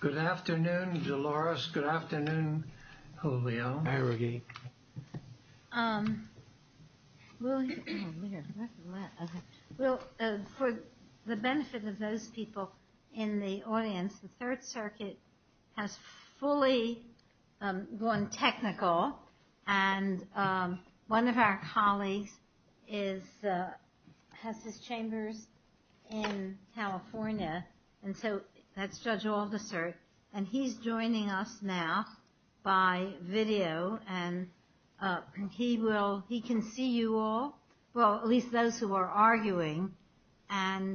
Good afternoon, Dolores. Good afternoon, Julio. For the benefit of those people in the audience, the Third Circuit has fully gone technical, and one of our colleagues has his chambers in California, and so that's Judge Aldister, and he's joining us now by video, and he can see you all, well, at least those who are arguing. Can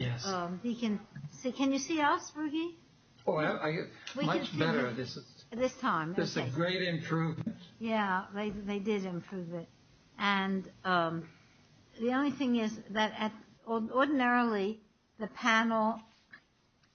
you see us, Ruggie? Much better this time. This is a great improvement. Yeah, they did improve it, and the only thing is that ordinarily the panel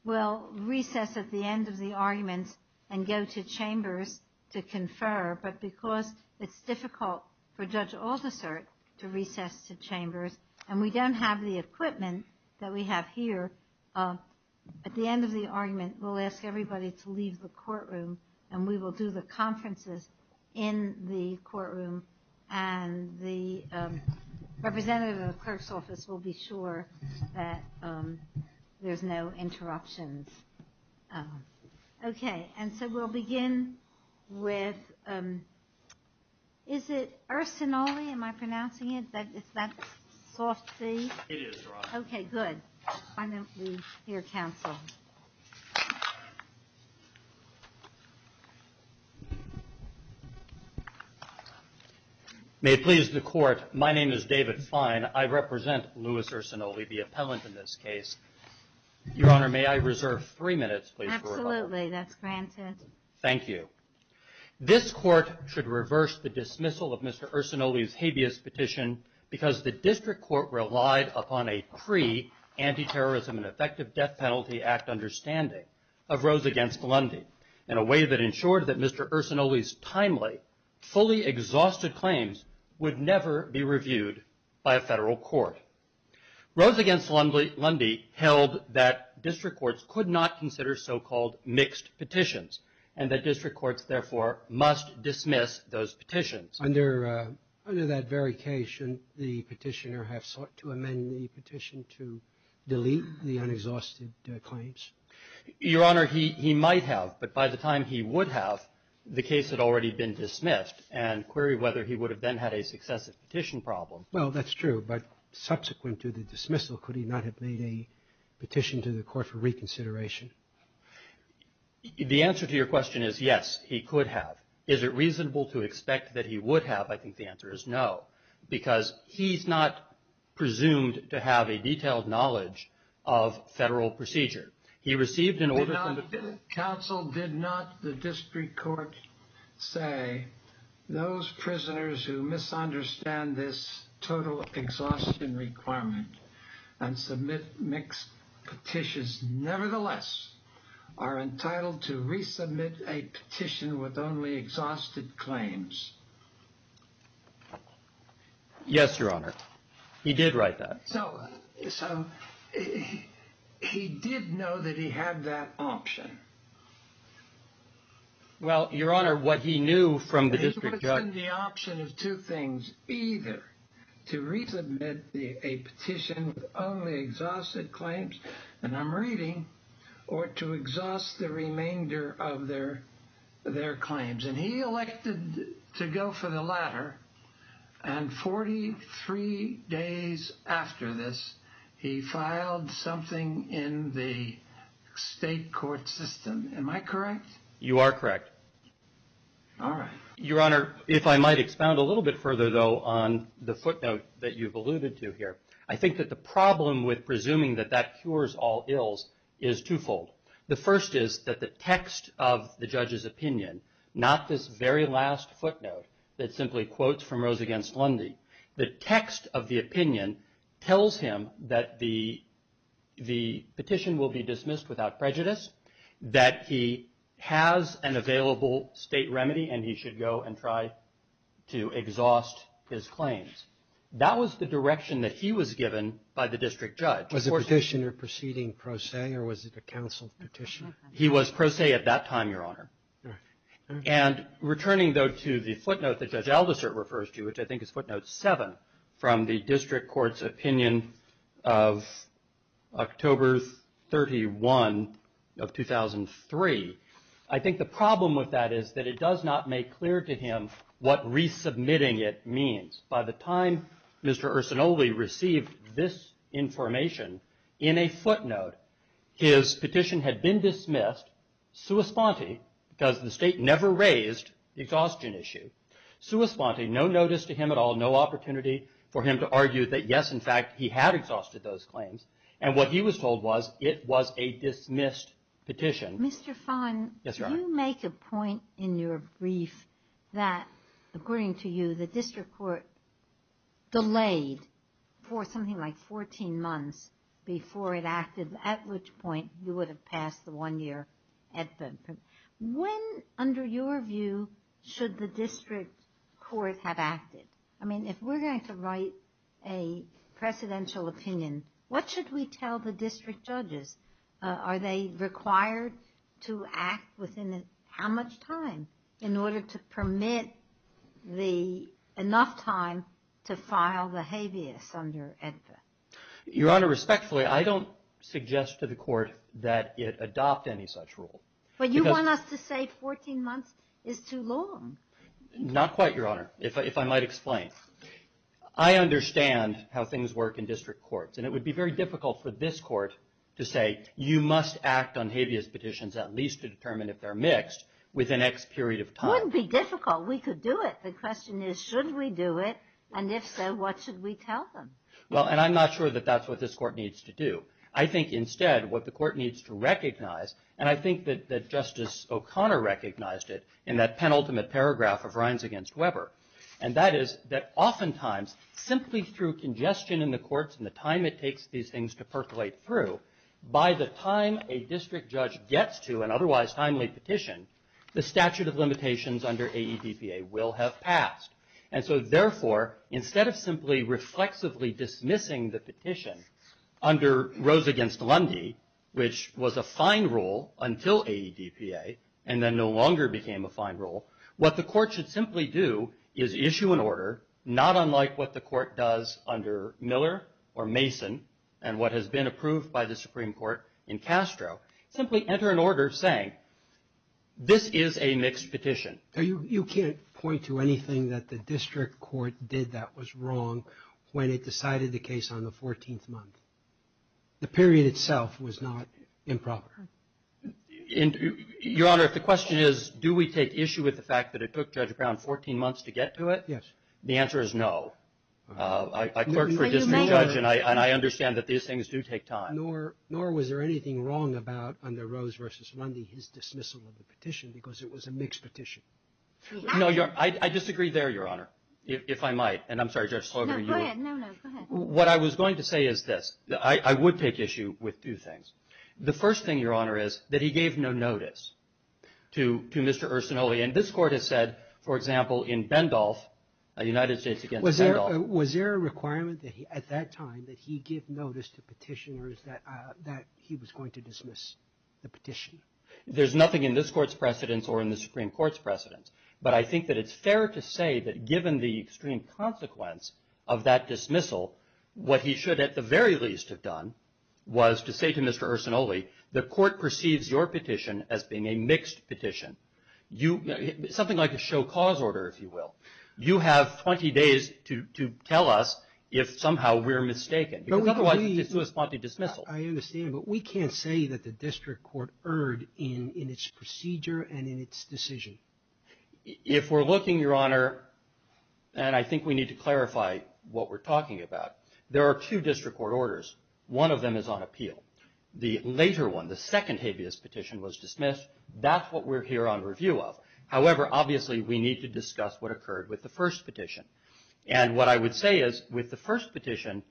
will recess at the end of the arguments and go to chambers to confer, but because it's difficult for Judge Aldister to recess to chambers, and we don't have the equipment that we have here, at the end of the argument, we'll ask everybody to leave the courtroom, and we will do the conferences in the courtroom, and the representative of the clerk's office will be sure that there's no interruptions. Okay, and so we'll begin with, is it Urcinoli? Am I pronouncing it? Is that soft C? It is, Your Honor. Okay, good. Why don't we hear counsel? May it please the Court, my name is David Fine. I represent Louis Urcinoli, the appellant in this case. Your Honor, may I reserve three minutes, please? Absolutely, that's granted. Thank you. This Court should reverse the dismissal of Mr. Urcinoli's habeas petition because the District Court relied upon a pre-Anti-Terrorism and Effective Death Penalty Act understanding of Rose v. Lundy in a way that ensured that Mr. Urcinoli's timely, fully exhausted claims would never be reviewed by a federal court. Rose v. Lundy held that District Courts could not consider so-called mixed petitions, and that District Courts, therefore, must dismiss those petitions. Under that very case, shouldn't the petitioner have sought to amend the petition to delete the unexhausted claims? Your Honor, he might have, but by the time he would have, the case had already been dismissed, and query whether he would have then had a successive petition problem. Well, that's true, but subsequent to the dismissal, could he not have made a petition to the Court for reconsideration? The answer to your question is, yes, he could have. Is it reasonable to expect that he would have? I think the answer is no, because he's not presumed to have a detailed knowledge of federal procedure. He received an order from the… The counsel did not, the District Court say, those prisoners who misunderstand this total exhaustion requirement and submit mixed petitions, nevertheless, are entitled to resubmit a petition with only exhausted claims. Yes, Your Honor. He did write that. So, he did know that he had that option. Well, Your Honor, what he knew from the District Court… You are correct. All right. I think that the problem with presuming that that cures all ills is twofold. The first is that the text of the judge's opinion, not this very last footnote that simply quotes from Rose against Lundy, the text of the opinion tells him that the petition will be dismissed without prejudice, that he has an available state remedy, and he should go and try to exhaust his claims. That was the direction that he was given by the District Judge. Was the petitioner proceeding pro se, or was it a counsel's petition? He was pro se at that time, Your Honor. And returning, though, to the footnote that Judge Aldisert refers to, which I think is footnote 7 from the District Court's opinion of October 31 of 2003, I think the problem with that is that it does not make clear to him what resubmitting it means. By the time Mr. Ursinoli received this information in a footnote, his petition had been dismissed sua sponte because the State never raised the exhaustion issue. Sua sponte, no notice to him at all, no opportunity for him to argue that, yes, in fact, he had exhausted those claims, and what he was told was it was a dismissed petition. Mr. Fahn, you make a point in your brief that, according to you, the District Court delayed for something like 14 months before it acted, at which point you would have passed the one-year advent. When, under your view, should the District Court have acted? I mean, if we're going to write a presidential opinion, what should we tell the district judges? Are they required to act within how much time in order to permit enough time to file the habeas under advent? Your Honor, respectfully, I don't suggest to the Court that it adopt any such rule. But you want us to say 14 months is too long. Not quite, Your Honor, if I might explain. I understand how things work in district courts, and it would be very difficult for this Court to say you must act on habeas petitions at least to determine if they're mixed within X period of time. Wouldn't be difficult. We could do it. The question is should we do it, and if so, what should we tell them? Well, and I'm not sure that that's what this Court needs to do. I think instead what the Court needs to recognize, and I think that Justice O'Connor recognized it in that penultimate paragraph of Rines v. Weber, and that is that oftentimes simply through congestion in the courts and the time it takes these things to percolate through, by the time a district judge gets to an otherwise timely petition, the statute of limitations under AEDPA will have passed. And so, therefore, instead of simply reflexively dismissing the petition under Rose v. Lundy, which was a fine rule until AEDPA and then no longer became a fine rule, what the Court should simply do is issue an order not unlike what the Court does under Miller or Mason and what has been approved by the Supreme Court in Castro. Simply enter an order saying this is a mixed petition. You can't point to anything that the district court did that was wrong when it decided the case on the 14th month. The period itself was not improper. Your Honor, the question is do we take issue with the fact that it took Judge Brown 14 months to get to it? Yes. The answer is no. I clerk for a district judge, and I understand that these things do take time. Nor was there anything wrong about under Rose v. Lundy his dismissal of the petition because it was a mixed petition. No, Your Honor. I disagree there, Your Honor, if I might. And I'm sorry, Judge Slaugher. No, go ahead. What I was going to say is this. I would take issue with two things. The first thing, Your Honor, is that he gave no notice to Mr. Ursinoli. And this Court has said, for example, in Bendolph, United States against Bendolph. Was there a requirement at that time that he give notice to petitioners that he was going to dismiss the petition? There's nothing in this Court's precedents or in the Supreme Court's precedents, but I think that it's fair to say that given the extreme consequence of that dismissal, what he should at the very least have done was to say to Mr. Ursinoli, the Court perceives your petition as being a mixed petition, something like a show cause order, if you will. You have 20 days to tell us if somehow we're mistaken. Otherwise, it's a sui sponte dismissal. I understand, but we can't say that the district court erred in its procedure and in its decision. If we're looking, Your Honor, and I think we need to clarify what we're talking about, there are two district court orders. One of them is on appeal. The later one, the second habeas petition, was dismissed. That's what we're here on review of. However, obviously, we need to discuss what occurred with the first petition, and what I would say is with the first petition,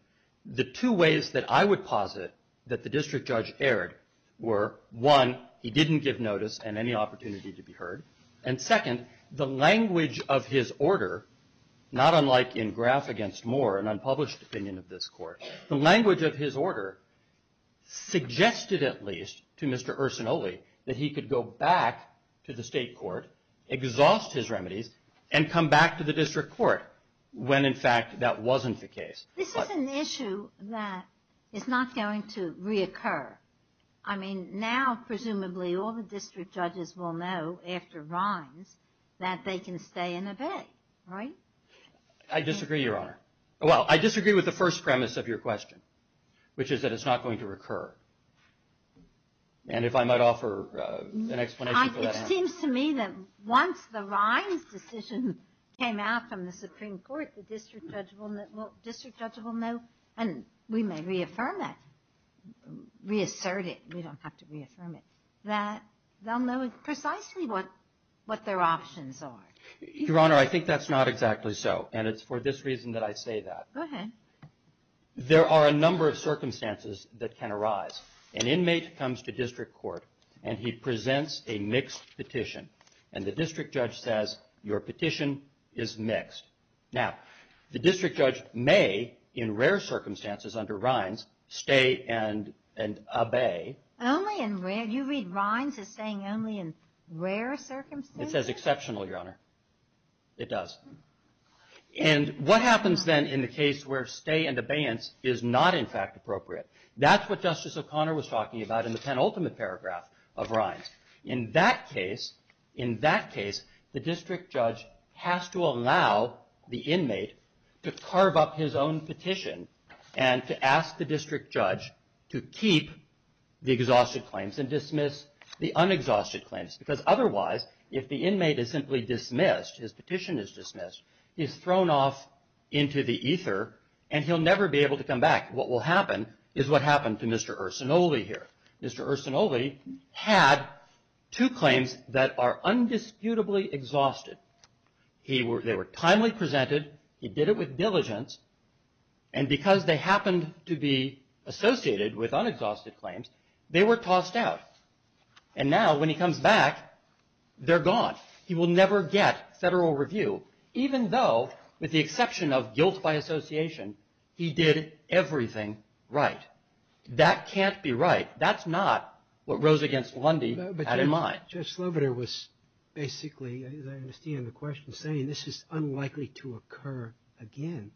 the two ways that I would posit that the district judge erred were, one, he didn't give notice and any opportunity to be heard, and second, the language of his order, not unlike in Graf against Moore, an unpublished opinion of this Court, the language of his order suggested at least to Mr. Ursinoli that he could go back to the state court, exhaust his remedies, and come back to the district court when, in fact, that wasn't the case. This is an issue that is not going to reoccur. I mean, now presumably all the district judges will know after Rimes that they can stay and obey, right? I disagree, Your Honor. Well, I disagree with the first premise of your question, which is that it's not going to recur, and if I might offer an explanation for that, Your Honor. It seems to me that once the Rimes decision came out from the Supreme Court, the district judge will know, and we may reaffirm that, reassert it. We don't have to reaffirm it. They'll know precisely what their options are. Your Honor, I think that's not exactly so, and it's for this reason that I say that. Go ahead. There are a number of circumstances that can arise. An inmate comes to district court, and he presents a mixed petition, and the district judge says, your petition is mixed. Now, the district judge may, in rare circumstances under Rimes, stay and obey. Only in rare? It says exceptional, Your Honor. It does. And what happens then in the case where stay and abeyance is not, in fact, appropriate? That's what Justice O'Connor was talking about in the penultimate paragraph of Rimes. In that case, the district judge has to allow the inmate to carve up his own petition and to ask the district judge to keep the exhausted claims and dismiss the unexhausted claims because otherwise, if the inmate is simply dismissed, his petition is dismissed, he's thrown off into the ether, and he'll never be able to come back. What will happen is what happened to Mr. Ursinoli here. Mr. Ursinoli had two claims that are undisputably exhausted. They were timely presented. He did it with diligence. And because they happened to be associated with unexhausted claims, they were tossed out. And now when he comes back, they're gone. He will never get federal review, even though, with the exception of guilt by association, he did everything right. That can't be right. That's not what Rose against Lundy had in mind. But Judge Sloboda was basically, as I understand the question, saying this is unlikely to occur again.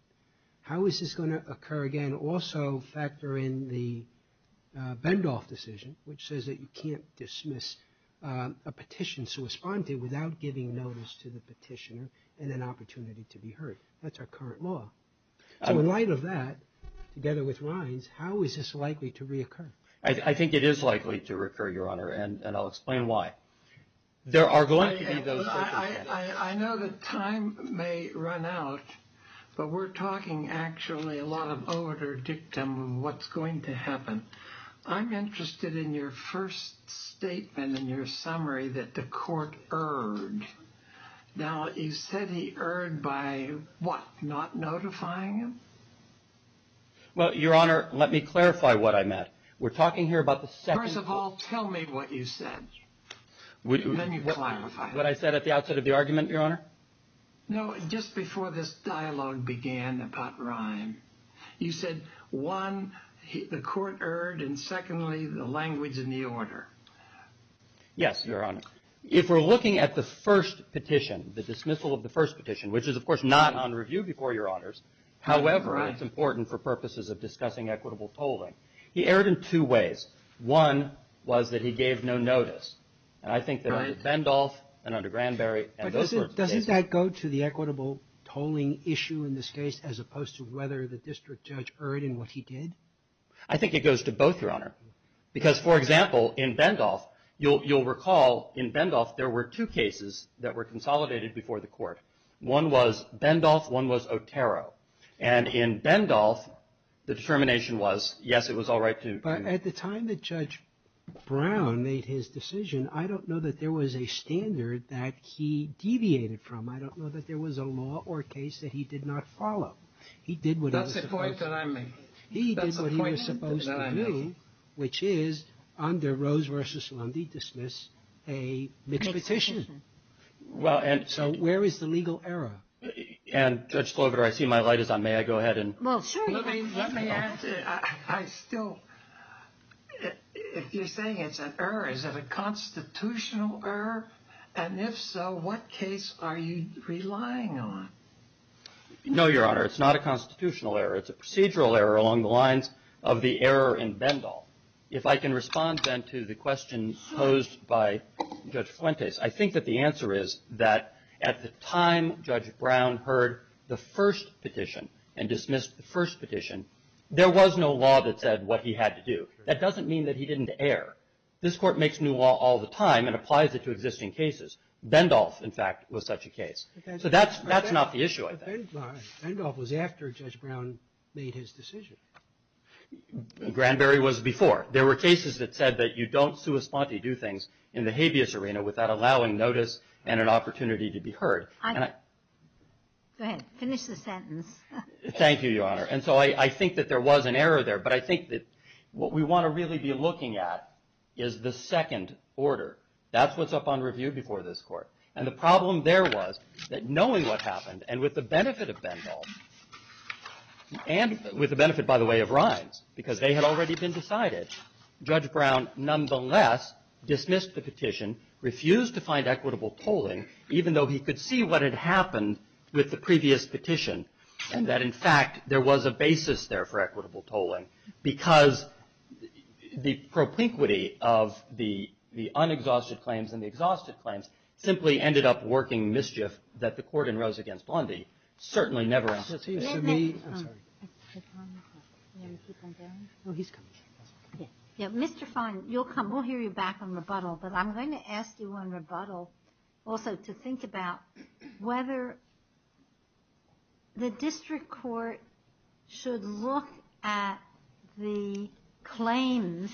How is this going to occur again? You can also factor in the Bendoff decision, which says that you can't dismiss a petition to respond to without giving notice to the petitioner and an opportunity to be heard. That's our current law. So in light of that, together with Rhines, how is this likely to reoccur? I think it is likely to recur, Your Honor, and I'll explain why. There are going to be those circumstances. I know that time may run out, but we're talking actually a lot of odor dictum of what's going to happen. I'm interested in your first statement in your summary that the court erred. Now, you said he erred by what, not notifying him? Well, Your Honor, let me clarify what I meant. We're talking here about the second— First of all, tell me what you said, and then you clarify. What I said at the outset of the argument, Your Honor? No, just before this dialogue began about Rhine, you said, one, the court erred, and secondly, the language in the order. Yes, Your Honor. If we're looking at the first petition, the dismissal of the first petition, which is, of course, not on review before Your Honors, however, it's important for purposes of discussing equitable tolling. He erred in two ways. One was that he gave no notice. And I think that in Bendolph and under Granberry— But doesn't that go to the equitable tolling issue in this case as opposed to whether the district judge erred in what he did? I think it goes to both, Your Honor. Because, for example, in Bendolph, you'll recall in Bendolph there were two cases that were consolidated before the court. One was Bendolph. One was Otero. And in Bendolph, the determination was, yes, it was all right to— But at the time that Judge Brown made his decision, I don't know that there was a standard that he deviated from. I don't know that there was a law or case that he did not follow. He did what he was supposed to. That's a point that I made. He did what he was supposed to do, which is, under Rose v. Lundy, dismiss a mixed petition. So where is the legal error? And, Judge Clover, I see my light is on. May I go ahead and— If you're saying it's an error, is it a constitutional error? And if so, what case are you relying on? No, Your Honor, it's not a constitutional error. It's a procedural error along the lines of the error in Bendolph. If I can respond, then, to the question posed by Judge Fuentes, I think that the answer is that at the time Judge Brown heard the first petition and dismissed the first petition, there was no law that said what he had to do. That doesn't mean that he didn't err. This Court makes new law all the time and applies it to existing cases. Bendolph, in fact, was such a case. So that's not the issue, I think. But Bendolph was after Judge Brown made his decision. Granberry was before. There were cases that said that you don't sua sponte do things in the habeas arena without allowing notice and an opportunity to be heard. Go ahead. Finish the sentence. Thank you, Your Honor. And so I think that there was an error there. But I think that what we want to really be looking at is the second order. That's what's up on review before this Court. And the problem there was that knowing what happened and with the benefit of Bendolph and with the benefit, by the way, of Rhines, because they had already been decided, Judge Brown, nonetheless, dismissed the petition, refused to find equitable tolling, even though he could see what had happened with the previous petition. And that, in fact, there was a basis there for equitable tolling because the propinquity of the unexhausted claims and the exhausted claims simply ended up working mischief that the Court in Rose v. Blondie certainly never asked for. Mr. Fine, you'll come. We'll hear you back on rebuttal. But I'm going to ask you on rebuttal also to think about whether the district court should look at the claims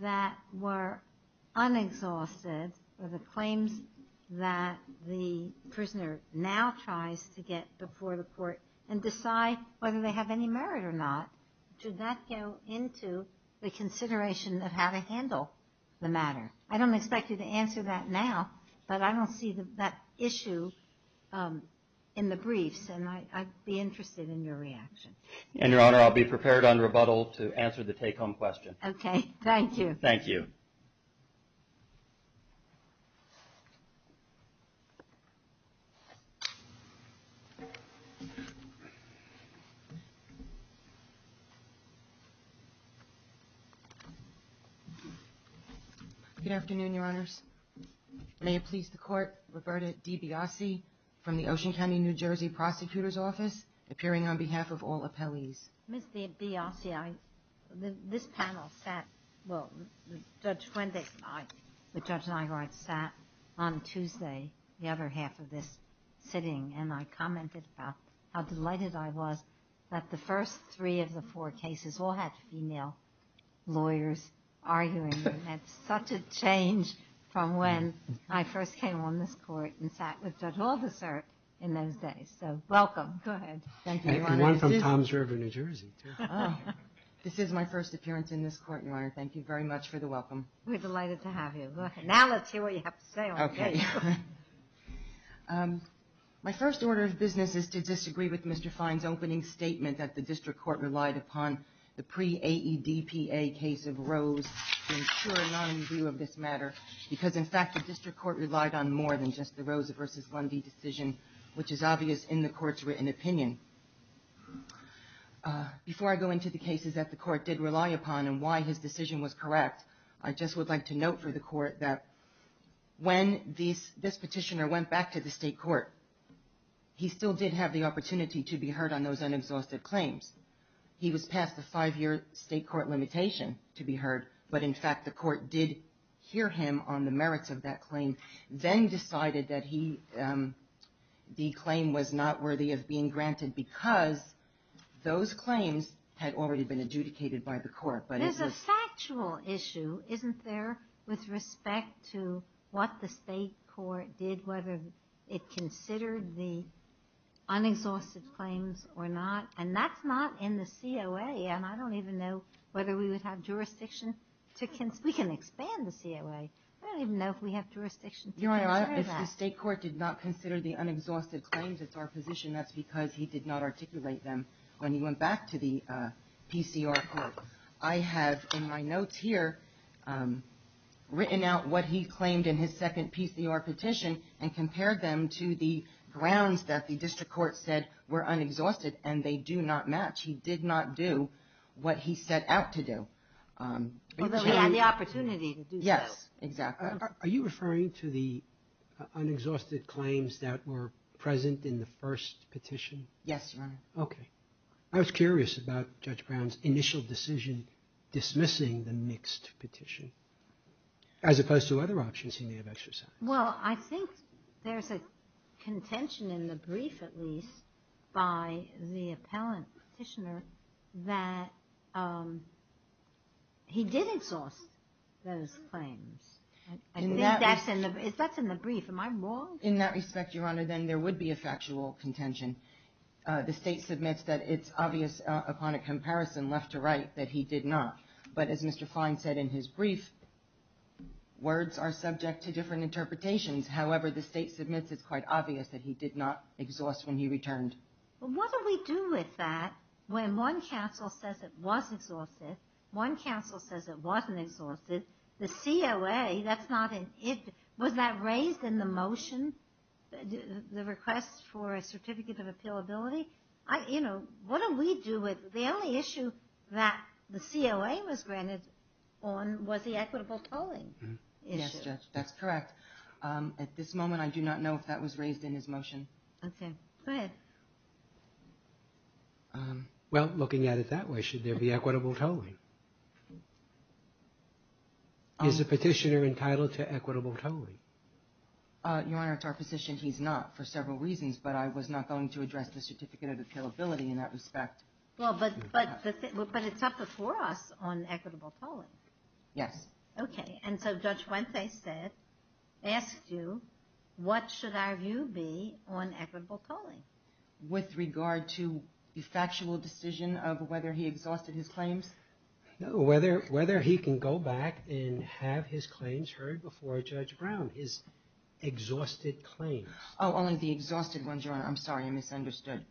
that were unexhausted or the claims that the prisoner now tries to get before the Court and decide whether they have any merit or not. Should that go into the consideration of how to handle the matter? I don't expect you to answer that now, but I don't see that issue in the briefs, and I'd be interested in your reaction. And, Your Honor, I'll be prepared on rebuttal to answer the take-home question. Okay. Thank you. Thank you. Good afternoon, Your Honors. May it please the Court, Roberta D. Biasi from the Ocean County, New Jersey, Prosecutor's Office, appearing on behalf of all appellees. Ms. Biasi, this panel sat on Tuesday, the other half of this sitting, and I commented about how delighted I was that the first three of the four cases all had female lawyers arguing. That's such a change from when I first came on this Court and sat with Judge Aldersert in those days. So, welcome. Oh, good. Thank you, Your Honor. And one from Toms River, New Jersey, too. This is my first appearance in this Court, Your Honor. Thank you very much for the welcome. We're delighted to have you. Now let's hear what you have to say on the case. Okay. My first order of business is to disagree with Mr. Fine's opening statement that the district court relied upon the pre-AEDPA case of Rose to ensure a non-review of this matter, because, in fact, the district court relied on more than just the Rose v. Lundy decision, which is obvious in the Court's written opinion. Before I go into the cases that the Court did rely upon and why his decision was correct, I just would like to note for the Court that when this petitioner went back to the state court, he still did have the opportunity to be heard on those unexhausted claims. He was passed a five-year state court limitation to be heard, but, in fact, the Court did hear him on the merits of that claim, then decided that the claim was not worthy of being granted because those claims had already been adjudicated by the Court. There's a factual issue, isn't there, with respect to what the state court did, whether it considered the unexhausted claims or not? And that's not in the COA, and I don't even know whether we would have jurisdiction to – we can expand the COA. I don't even know if we have jurisdiction to consider that. Your Honor, if the state court did not consider the unexhausted claims as our position, that's because he did not articulate them when he went back to the PCR court. I have in my notes here written out what he claimed in his second PCR petition and compared them to the grounds that the district court said were unexhausted and they do not match. He did not do what he set out to do. Although he had the opportunity to do so. Yes, exactly. Are you referring to the unexhausted claims that were present in the first petition? Yes, Your Honor. Okay. I was curious about Judge Brown's initial decision dismissing the mixed petition, as opposed to other options he may have exercised. Well, I think there's a contention in the brief, at least, by the appellant petitioner that he did exhaust those claims. I think that's in the brief. Am I wrong? In that respect, Your Honor, then there would be a factual contention. The state submits that it's obvious upon a comparison left to right that he did not. But as Mr. Fine said in his brief, words are subject to different interpretations. However, the state submits it's quite obvious that he did not exhaust when he returned. Well, what do we do with that when one counsel says it was exhausted, one counsel says it wasn't exhausted? The COA, was that raised in the motion, the request for a certificate of appealability? What do we do with the only issue that the COA was granted on was the equitable tolling issue. Yes, Judge, that's correct. At this moment, I do not know if that was raised in his motion. Okay. Go ahead. Well, looking at it that way, should there be equitable tolling? Is the petitioner entitled to equitable tolling? Your Honor, to our position, he's not for several reasons, but I was not going to address the certificate of appealability in that respect. Well, but it's up before us on equitable tolling. Yes. Okay. And so Judge Fuentes asked you, what should our view be on equitable tolling? With regard to the factual decision of whether he exhausted his claims? No, whether he can go back and have his claims heard before Judge Brown, his exhausted claims. Oh, only the exhausted ones, Your Honor. I'm sorry, I misunderstood.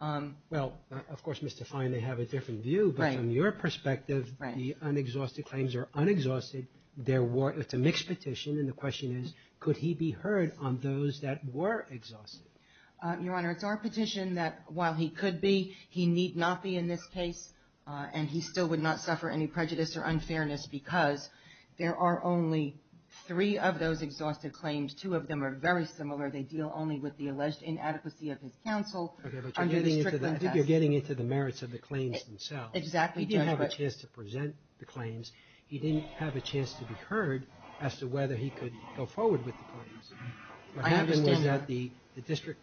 Well, of course, Mr. Fine, they have a different view. Right. But from your perspective, the unexhausted claims are unexhausted. It's a mixed petition, and the question is, could he be heard on those that were exhausted? Your Honor, it's our petition that while he could be, he need not be in this case, and he still would not suffer any prejudice or unfairness because there are only three of those exhausted claims. Two of them are very similar. They deal only with the alleged inadequacy of his counsel. Okay, but you're getting into the merits of the claims themselves. Exactly, Judge. He didn't have a chance to present the claims. He didn't have a chance to be heard as to whether he could go forward with the claims. I understand that. I understand that the district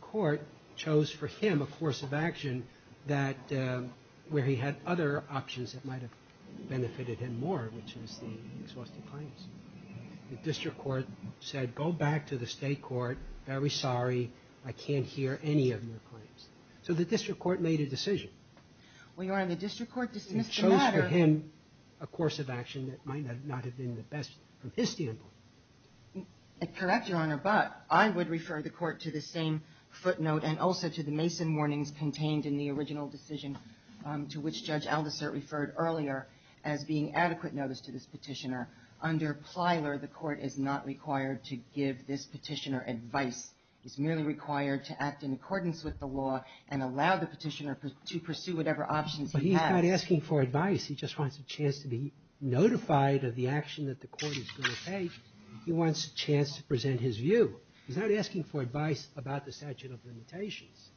court chose for him a course of action where he had other options that might have benefited him more, which was the exhausted claims. The district court said, go back to the state court, very sorry, I can't hear any of your claims. So the district court made a decision. Well, Your Honor, the district court dismissed the matter. It chose for him a course of action that might not have been the best from his standpoint. Correct, Your Honor, but I would refer the court to the same footnote and also to the Mason warnings contained in the original decision to which Judge Aldisert referred earlier as being adequate notice to this petitioner. Under Plyler, the court is not required to give this petitioner advice. He's merely required to act in accordance with the law and allow the petitioner to pursue whatever options he has. But he's not asking for advice. He just wants a chance to be notified of the action that the court is going to take. He wants a chance to present his view. He's not asking for advice about the statute of limitations.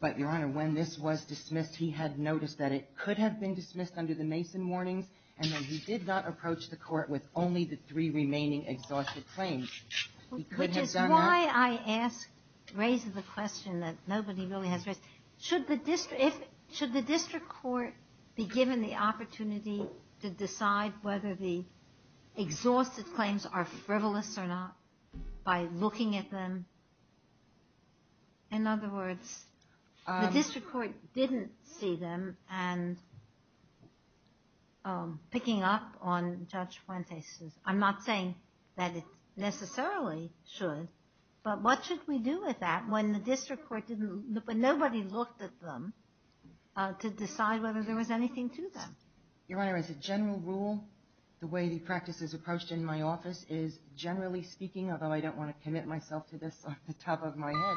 But, Your Honor, when this was dismissed, he had noticed that it could have been dismissed under the Mason warnings and that he did not approach the court with only the three remaining exhausted claims. Which is why I asked, raised the question that nobody really has raised. Should the district court be given the opportunity to decide whether the exhausted claims are frivolous or not by looking at them? In other words, the district court didn't see them, and picking up on Judge Fuentes'... I'm not saying that it necessarily should, but what should we do with that when the district court didn't... when nobody looked at them to decide whether there was anything to them? Your Honor, as a general rule, the way the practice is approached in my office is, generally speaking, although I don't want to commit myself to this off the top of my head,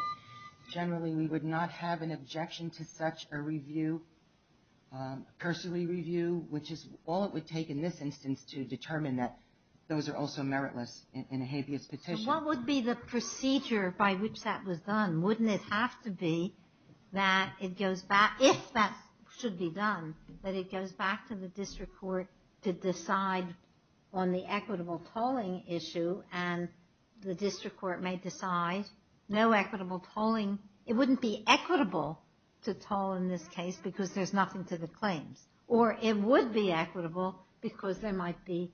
generally we would not have an objection to such a review, cursory review, which is all it would take in this instance to determine that those are also meritless in a habeas petition. What would be the procedure by which that was done? Wouldn't it have to be that it goes back... if that should be done, that it goes back to the district court to decide on the equitable tolling issue, and the district court may decide no equitable tolling. It wouldn't be equitable to toll in this case because there's nothing to the claims. Or it would be equitable because there might be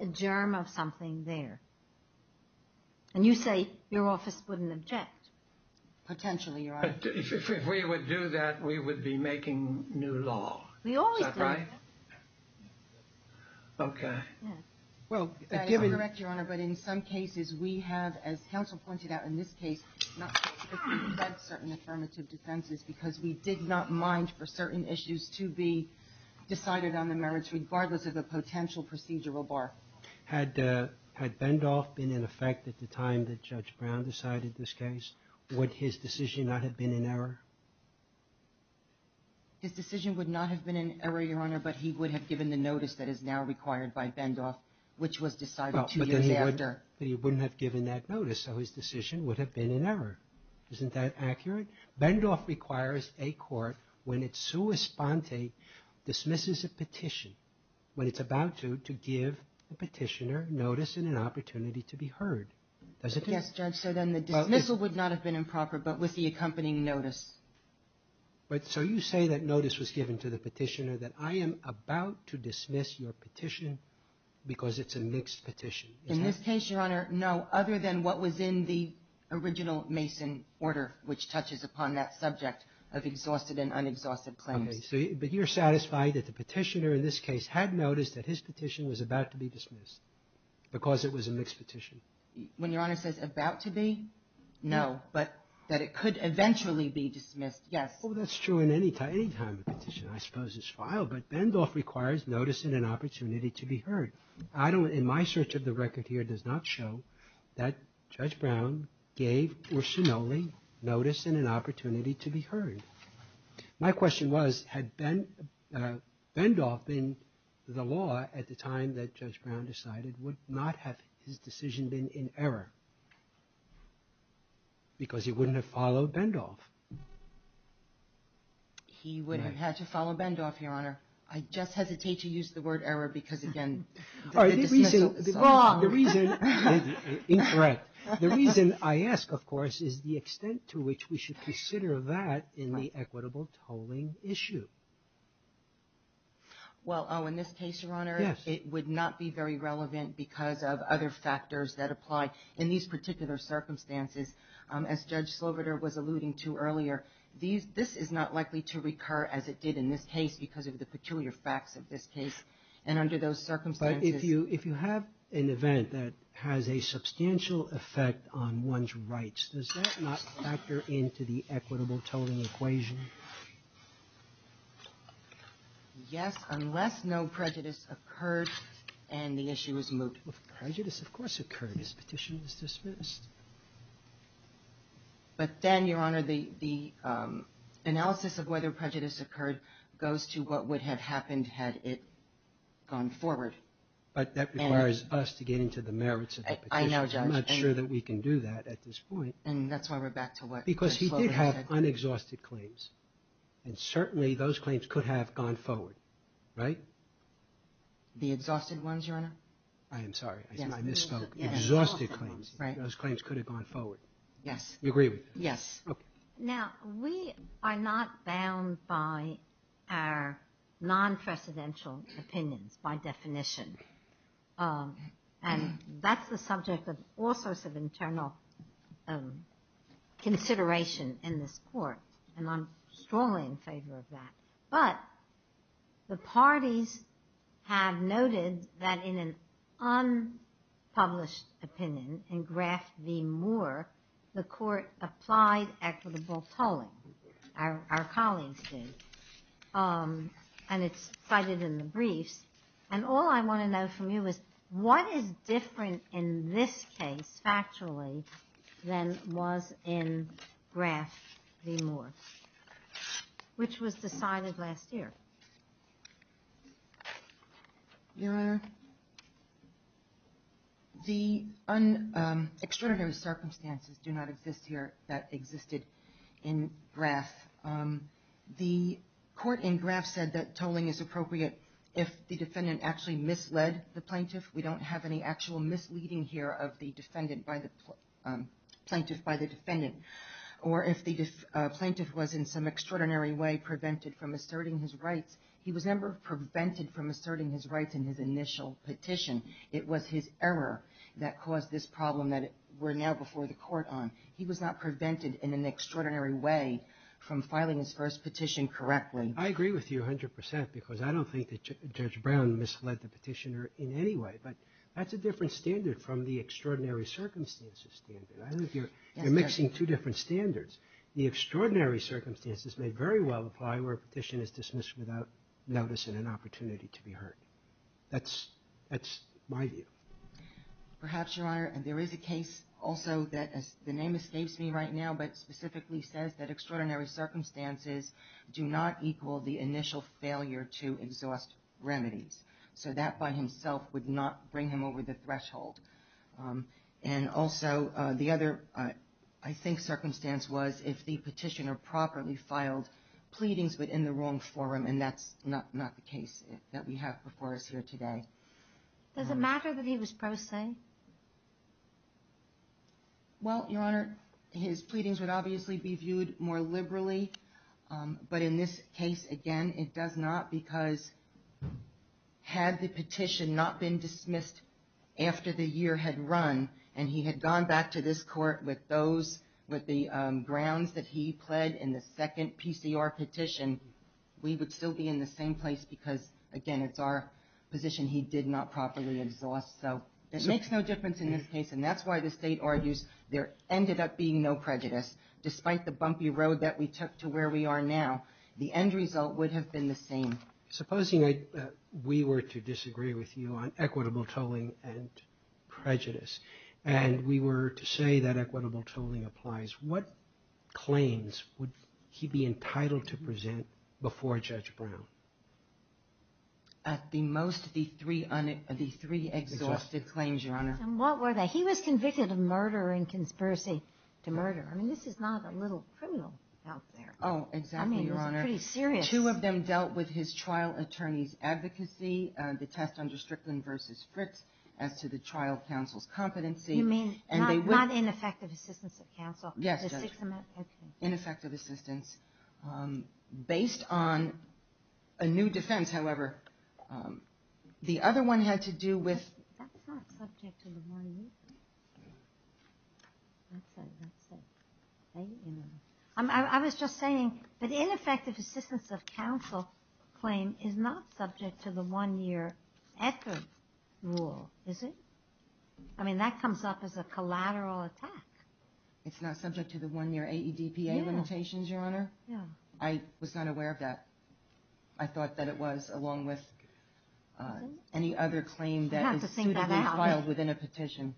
a germ of something there. And you say your office wouldn't object. Potentially, Your Honor. If we would do that, we would be making new law. We always do. Is that right? Yes. Okay. Well, I am correct, Your Honor, but in some cases we have, as counsel pointed out in this case, not... certain affirmative defenses because we did not mind for certain issues to be decided on the merits regardless of the potential procedural bar. Had Bendoff been in effect at the time that Judge Brown decided this case, would his decision not have been in error? His decision would not have been in error, Your Honor, but he would have given the notice that is now required by Bendoff, which was decided two years after. But he wouldn't have given that notice, so his decision would have been in error. Isn't that accurate? Bendoff requires a court, when it's sua sponte, dismisses a petition, when it's about to, to give the petitioner notice and an opportunity to be heard. Yes, Judge, so then the dismissal would not have been improper, but with the accompanying notice. So you say that notice was given to the petitioner that I am about to dismiss your petition because it's a mixed petition. In this case, Your Honor, no, other than what was in the original Mason order, which touches upon that subject of exhausted and unexhausted claims. But you're satisfied that the petitioner in this case had noticed that his petition was about to be dismissed because it was a mixed petition? When Your Honor says about to be, no, but that it could eventually be dismissed, yes. Well, that's true in any time of petition, I suppose it's filed, but Bendoff requires notice and an opportunity to be heard. I don't, in my search of the record here, does not show that Judge Brown gave Urshinole notice and an opportunity to be heard. My question was, had Bendoff been the law at the time that Judge Brown decided would not have his decision been in error because he wouldn't have followed Bendoff? He would have had to follow Bendoff, Your Honor. I just hesitate to use the word error because, again, the dismissal is wrong. Incorrect. The reason I ask, of course, is the extent to which we should consider that in the equitable tolling issue. Well, oh, in this case, Your Honor, it would not be very relevant because of other factors that apply in these particular circumstances. As Judge Sloboda was alluding to earlier, this is not likely to recur as it did in this case because of the peculiar facts of this case. And under those circumstances... But if you have an event that has a substantial effect on one's rights, does that not factor into the equitable tolling equation? Yes, unless no prejudice occurred and the issue is moved. Well, prejudice, of course, occurred. This petition was dismissed. But then, Your Honor, the analysis of whether prejudice occurred goes to what would have happened had it gone forward. But that requires us to get into the merits of the petition. I'm not sure that we can do that at this point. And that's why we're back to what Judge Sloboda said. Because he did have unexhausted claims. And certainly, those claims could have gone forward. Right? The exhausted ones, Your Honor? I am sorry. I misspoke. Exhausted claims. Those claims could have gone forward. Yes. You agree with that? Yes. Now, we are not bound by our non-presidential opinions, by definition. And that's the subject of all sorts of internal consideration in this Court. And I'm strongly in favor of that. But the parties have noted that in an unpublished opinion, in Graf V. Moore, the Court applied equitable tolling. Our colleagues did. And it's cited in the briefs. And all I want to know from you is, what is different in this case, factually, than was in Graf V. Moore, which was decided last year? Your Honor, the extraordinary circumstances do not exist here that existed in Graf. The Court in Graf said that tolling is appropriate if the defendant actually misled the plaintiff. We don't have any actual misleading here of the plaintiff by the defendant. Or if the plaintiff was in some extraordinary way prevented from asserting his rights. He was never prevented from asserting his rights in his initial petition. It was his error that caused this problem that we're now before the Court on. He was not prevented in an extraordinary way from filing his first petition correctly. I agree with you 100 percent, because I don't think that Judge Brown misled the petitioner in any way. But that's a different standard from the extraordinary circumstances standard. I think you're mixing two different standards. The extraordinary circumstances may very well apply where a petition is dismissed without notice and an opportunity to be heard. That's my view. Perhaps, Your Honor, there is a case also that the name escapes me right now, but specifically says that extraordinary circumstances do not equal the initial failure to exhaust remedies. So that by himself would not bring him over the threshold. And also, the other, I think, circumstance was if the petitioner properly filed pleadings but in the wrong forum, and that's not the case that we have before us here today. Does it matter that he was prosaic? Well, Your Honor, his pleadings would obviously be viewed more liberally. But in this case, again, it does not, because had the petition not been dismissed after the year had run, and he had gone back to this court with the grounds that he pled in the second PCR petition, we would still be in the same place because, again, it's our position he did not properly exhaust. So it makes no difference in this case, and that's why the state argues there ended up being no prejudice, despite the bumpy road that we took to where we are now. The end result would have been the same. Supposing we were to disagree with you on equitable tolling and prejudice, and we were to say that equitable tolling applies, what claims would he be entitled to present before Judge Brown? At the most, the three exhausted claims, Your Honor. And what were they? He was convicted of murder and conspiracy to murder. I mean, this is not a little criminal out there. Oh, exactly, Your Honor. I mean, this is pretty serious. Two of them dealt with his trial attorney's advocacy, the test under Strickland v. Fritz, as to the trial counsel's competency. You mean not ineffective assistance of counsel? Yes, Judge. Ineffective assistance. Based on a new defense, however, the other one had to do with... That's not subject to the morning meeting. That's it, that's it. I was just saying, but ineffective assistance of counsel claim is not subject to the one-year effort rule, is it? I mean, that comes up as a collateral attack. It's not subject to the one-year AEDPA limitations, Your Honor? No. I was not aware of that. I thought that it was, along with any other claim that is suitably filed within a petition.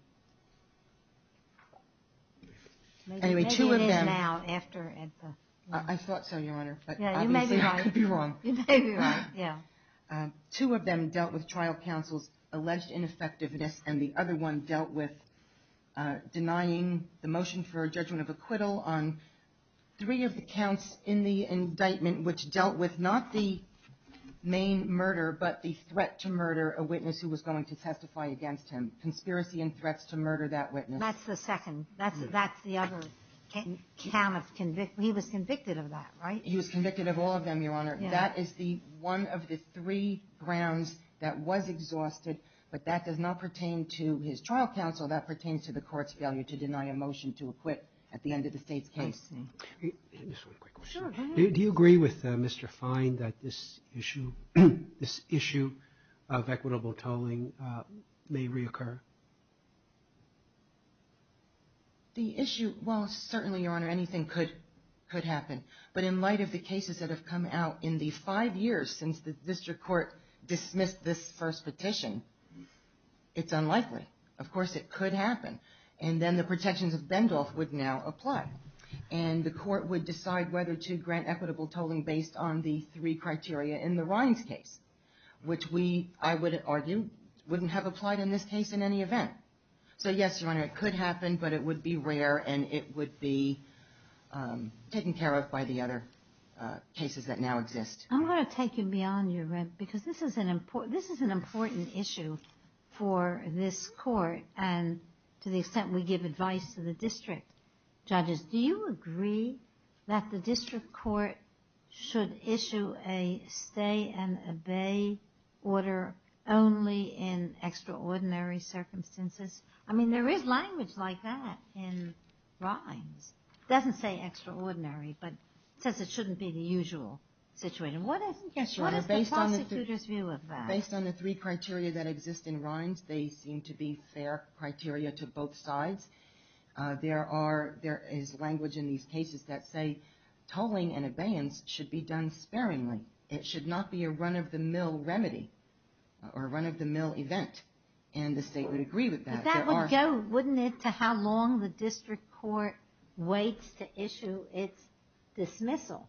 Anyway, two of them... Maybe it is now, after AEDPA. I thought so, Your Honor. Yeah, you may be right. I could be wrong. You may be right, yeah. Two of them dealt with trial counsel's alleged ineffectiveness, and the other one dealt with denying the motion for a judgment of acquittal on three of the counts in the indictment, which dealt with not the main murder, but the threat to murder a witness who was going to testify against him. Conspiracy and threats to murder that witness. That's the second. That's the other. He was convicted of that, right? He was convicted of all of them, Your Honor. That is one of the three grounds that was exhausted, but that does not pertain to his trial counsel. That pertains to the court's failure to deny a motion to acquit at the end of the State's case. Do you agree with Mr. Fine that this issue, this issue of equitable tolling may reoccur? The issue, well, certainly, Your Honor, anything could happen, but in light of the cases that have come out in the five years since the district court dismissed this first petition, it's unlikely. Of course, it could happen, and then the protections of Bendolf would now apply, and the court would decide whether to grant equitable tolling based on the three criteria in the Rines case, which we, I would argue, wouldn't have applied in this case in any event. So, yes, Your Honor, it could happen, but it would be rare, and it would be taken care of by the other cases that now exist. I'm going to take you beyond your rent, because this is an important issue for this court, and to the extent we give advice to the district judges. Do you agree that the district court should issue a stay-and-obey order only in extraordinary circumstances? I mean, there is language like that in Rines. It doesn't say extraordinary, but it says it shouldn't be the usual situation. What is the prosecutor's view of that? Based on the three criteria that exist in Rines, they seem to be fair criteria to both sides. There is language in these cases that say tolling and abeyance should be done sparingly. It should not be a run-of-the-mill remedy, or a run-of-the-mill event, and the state would agree with that. But that would go, wouldn't it, to how long the district court waits to issue its dismissal?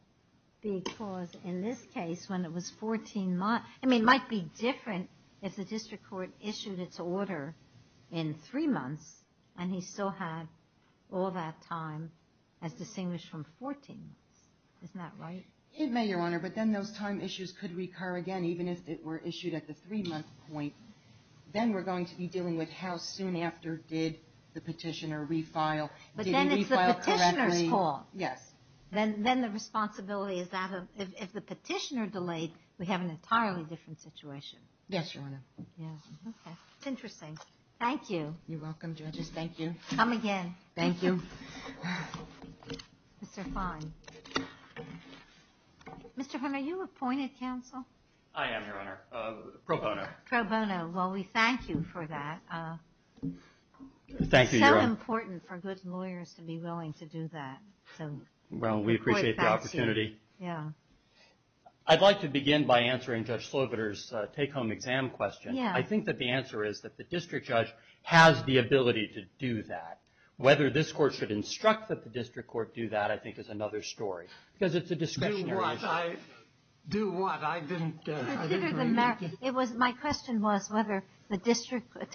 Because in this case, when it was 14 months, I mean, it might be different if the district court issued its order in three months, and he still had all that time as distinguished from 14 months. Isn't that right? It may, Your Honor, but then those time issues could recur again, even if it were issued at the three-month point. Then we're going to be dealing with how soon after did the petitioner refile? Did he refile correctly? But then it's the petitioner's fault. Yes. Then the responsibility is that if the petitioner delayed, we have an entirely different situation. Yes, Your Honor. Yes, okay. It's interesting. Thank you. You're welcome, judges. Thank you. Come again. Thank you. Mr. Fon. Mr. Fon, are you appointed, counsel? I am, Your Honor. Pro bono. Pro bono. Well, we thank you for that. Thank you, Your Honor. It's so important for good lawyers to be willing to do that. Well, we appreciate the opportunity. Yeah. I'd like to begin by answering Judge Slobiter's take-home exam question. Yeah. I think that the answer is that the district judge has the ability to do that. Whether this court should instruct that the district court do that, I think is another story because it's a discretionary issue. Do what? Do what? I didn't hear you. My question was whether the district, at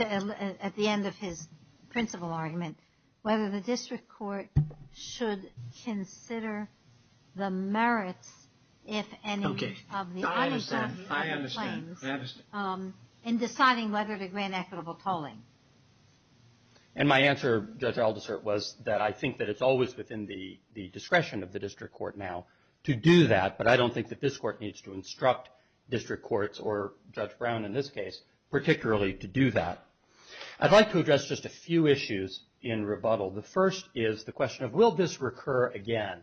the end of his principal argument, whether the district court should consider the merits, if any, of the claims. I understand. I understand. In deciding whether to grant equitable tolling. And my answer, Judge Aldersert, was that I think that it's always within the discretion of the district court now to do that, but I don't think that this court needs to instruct district courts, or Judge Brown in this case, particularly to do that. I'd like to address just a few issues in rebuttal. The first is the question of will this recur again?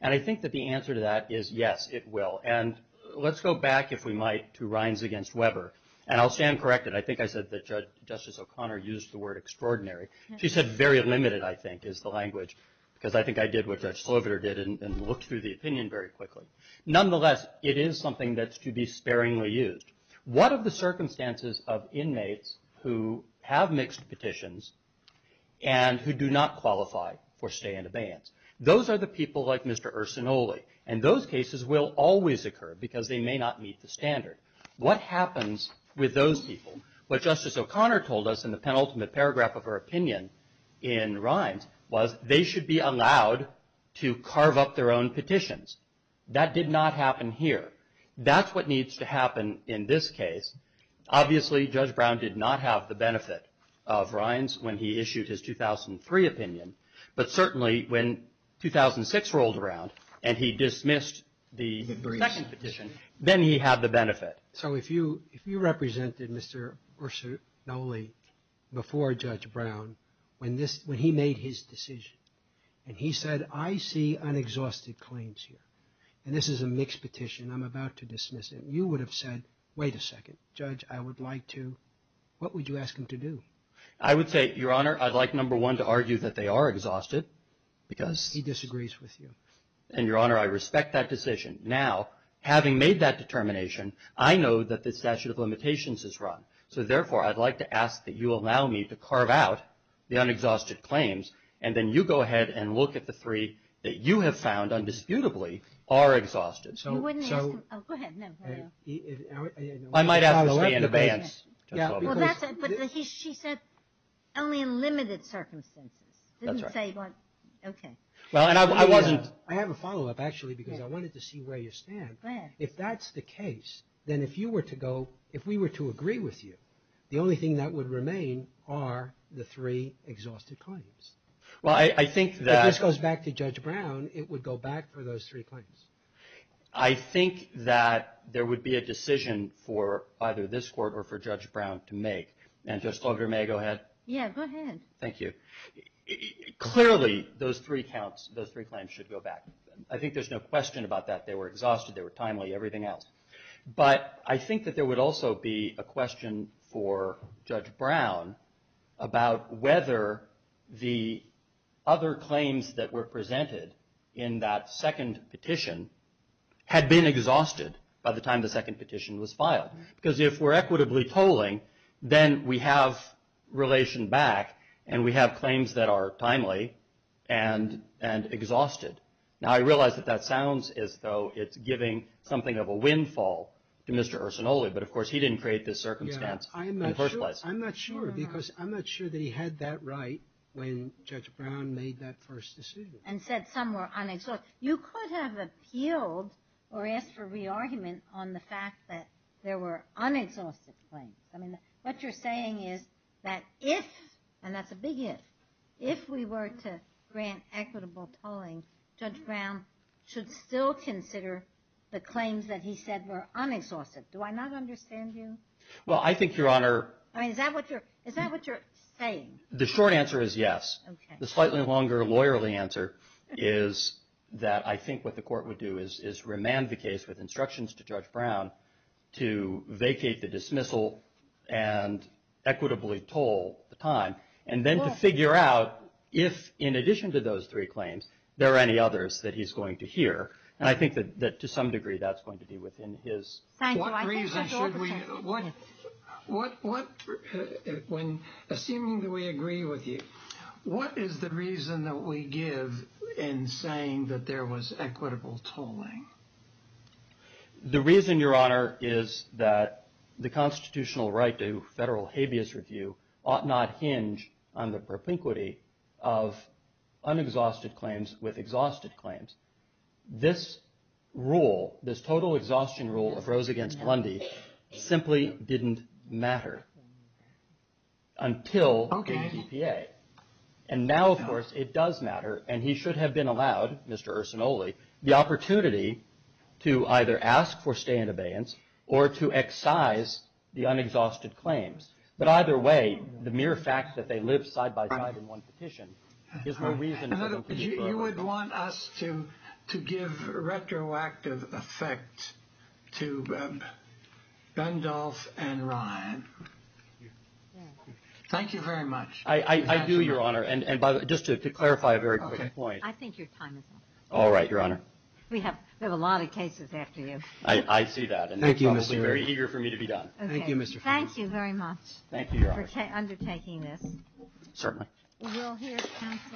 And I think that the answer to that is yes, it will. And let's go back, if we might, to Rines v. Weber. And I'll stand corrected. I think I said that Justice O'Connor used the word extraordinary. She said very limited, I think, is the language, because I think I did what Judge Sloviter did and looked through the opinion very quickly. Nonetheless, it is something that's to be sparingly used. What are the circumstances of inmates who have mixed petitions and who do not qualify for stay in abeyance? Those are the people like Mr. Ursinoli. And those cases will always occur because they may not meet the standard. What happens with those people? What Justice O'Connor told us in the penultimate paragraph of her opinion in Rines was they should be allowed to carve up their own petitions. That did not happen here. That's what needs to happen in this case. Obviously, Judge Brown did not have the benefit of Rines when he issued his 2003 opinion, but certainly when 2006 rolled around and he dismissed the second petition, then he had the benefit. So if you represented Mr. Ursinoli before Judge Brown when he made his decision and he said, I see unexhausted claims here, and this is a mixed petition, I'm about to dismiss it, you would have said, wait a second, Judge, I would like to, what would you ask him to do? I would say, Your Honor, I'd like, number one, to argue that they are exhausted because he disagrees with you. And, Your Honor, I respect that decision. Now, having made that determination, I know that the statute of limitations is wrong. So, therefore, I'd like to ask that you allow me to carve out the unexhausted claims and then you go ahead and look at the three that you have found undisputably are exhausted. You wouldn't ask him, oh, go ahead. I might ask him to stay in abeyance. But she said only in limited circumstances. That's right. Okay. Well, and I wasn't, I have a follow-up, actually, because I wanted to see where you stand. If that's the case, then if you were to go, if we were to agree with you, the only thing that would remain are the three exhausted claims. Well, I think that. If this goes back to Judge Brown, it would go back for those three claims. I think that there would be a decision for either this Court or for Judge Brown to make. And, Judge Fogler, may I go ahead? Yeah, go ahead. Thank you. Clearly, those three counts, those three claims should go back. I think there's no question about that. They were exhausted. They were timely, everything else. But I think that there would also be a question for Judge Brown about whether the other claims that were presented in that second petition had been exhausted by the time the second petition was filed. Because if we're equitably tolling, then we have relation back, and we have claims that are timely and exhausted. Now, I realize that that sounds as though it's giving something of a windfall to Mr. Arsenoli. But, of course, he didn't create this circumstance in the first place. I'm not sure, because I'm not sure that he had that right when Judge Brown made that first decision. And said some were unexhausted. You could have appealed or asked for re-argument on the fact that there were unexhausted claims. I mean, what you're saying is that if, and that's a big if, if we were to grant equitable tolling, Judge Brown should still consider the claims that he said were unexhausted. Do I not understand you? Well, I think, Your Honor. I mean, is that what you're saying? The short answer is yes. Okay. The slightly longer, lawyerly answer is that I think what the Court would do is remand the case with instructions to Judge Brown to vacate the dismissal and equitably toll the time. And then to figure out if, in addition to those three claims, there are any others that he's going to hear. And I think that, to some degree, that's going to be within his. Thank you. What reason should we, what, assuming that we agree with you, what is the reason that we give in saying that there was equitable tolling? The reason, Your Honor, is that the constitutional right to federal habeas review ought not hinge on the propinquity of unexhausted claims with exhausted claims. This rule, this total exhaustion rule of Rose against Lundy, simply didn't matter until the DPA. Okay. And now, of course, it does matter, and he should have been allowed, Mr. Ursinoli, the opportunity to either ask for stay in abeyance or to excise the unexhausted claims. But either way, the mere fact that they live side by side in one petition is no reason for them to defer. You would want us to give retroactive effect to Gundolf and Ryan. Thank you very much. I do, Your Honor. And just to clarify a very quick point. I think your time is up. All right, Your Honor. We have a lot of cases after you. I see that. And I'm probably very eager for me to be done. Thank you, Mr. Farris. Thank you very much. Thank you, Your Honor. For undertaking this. Certainly. We're all here. We're all here.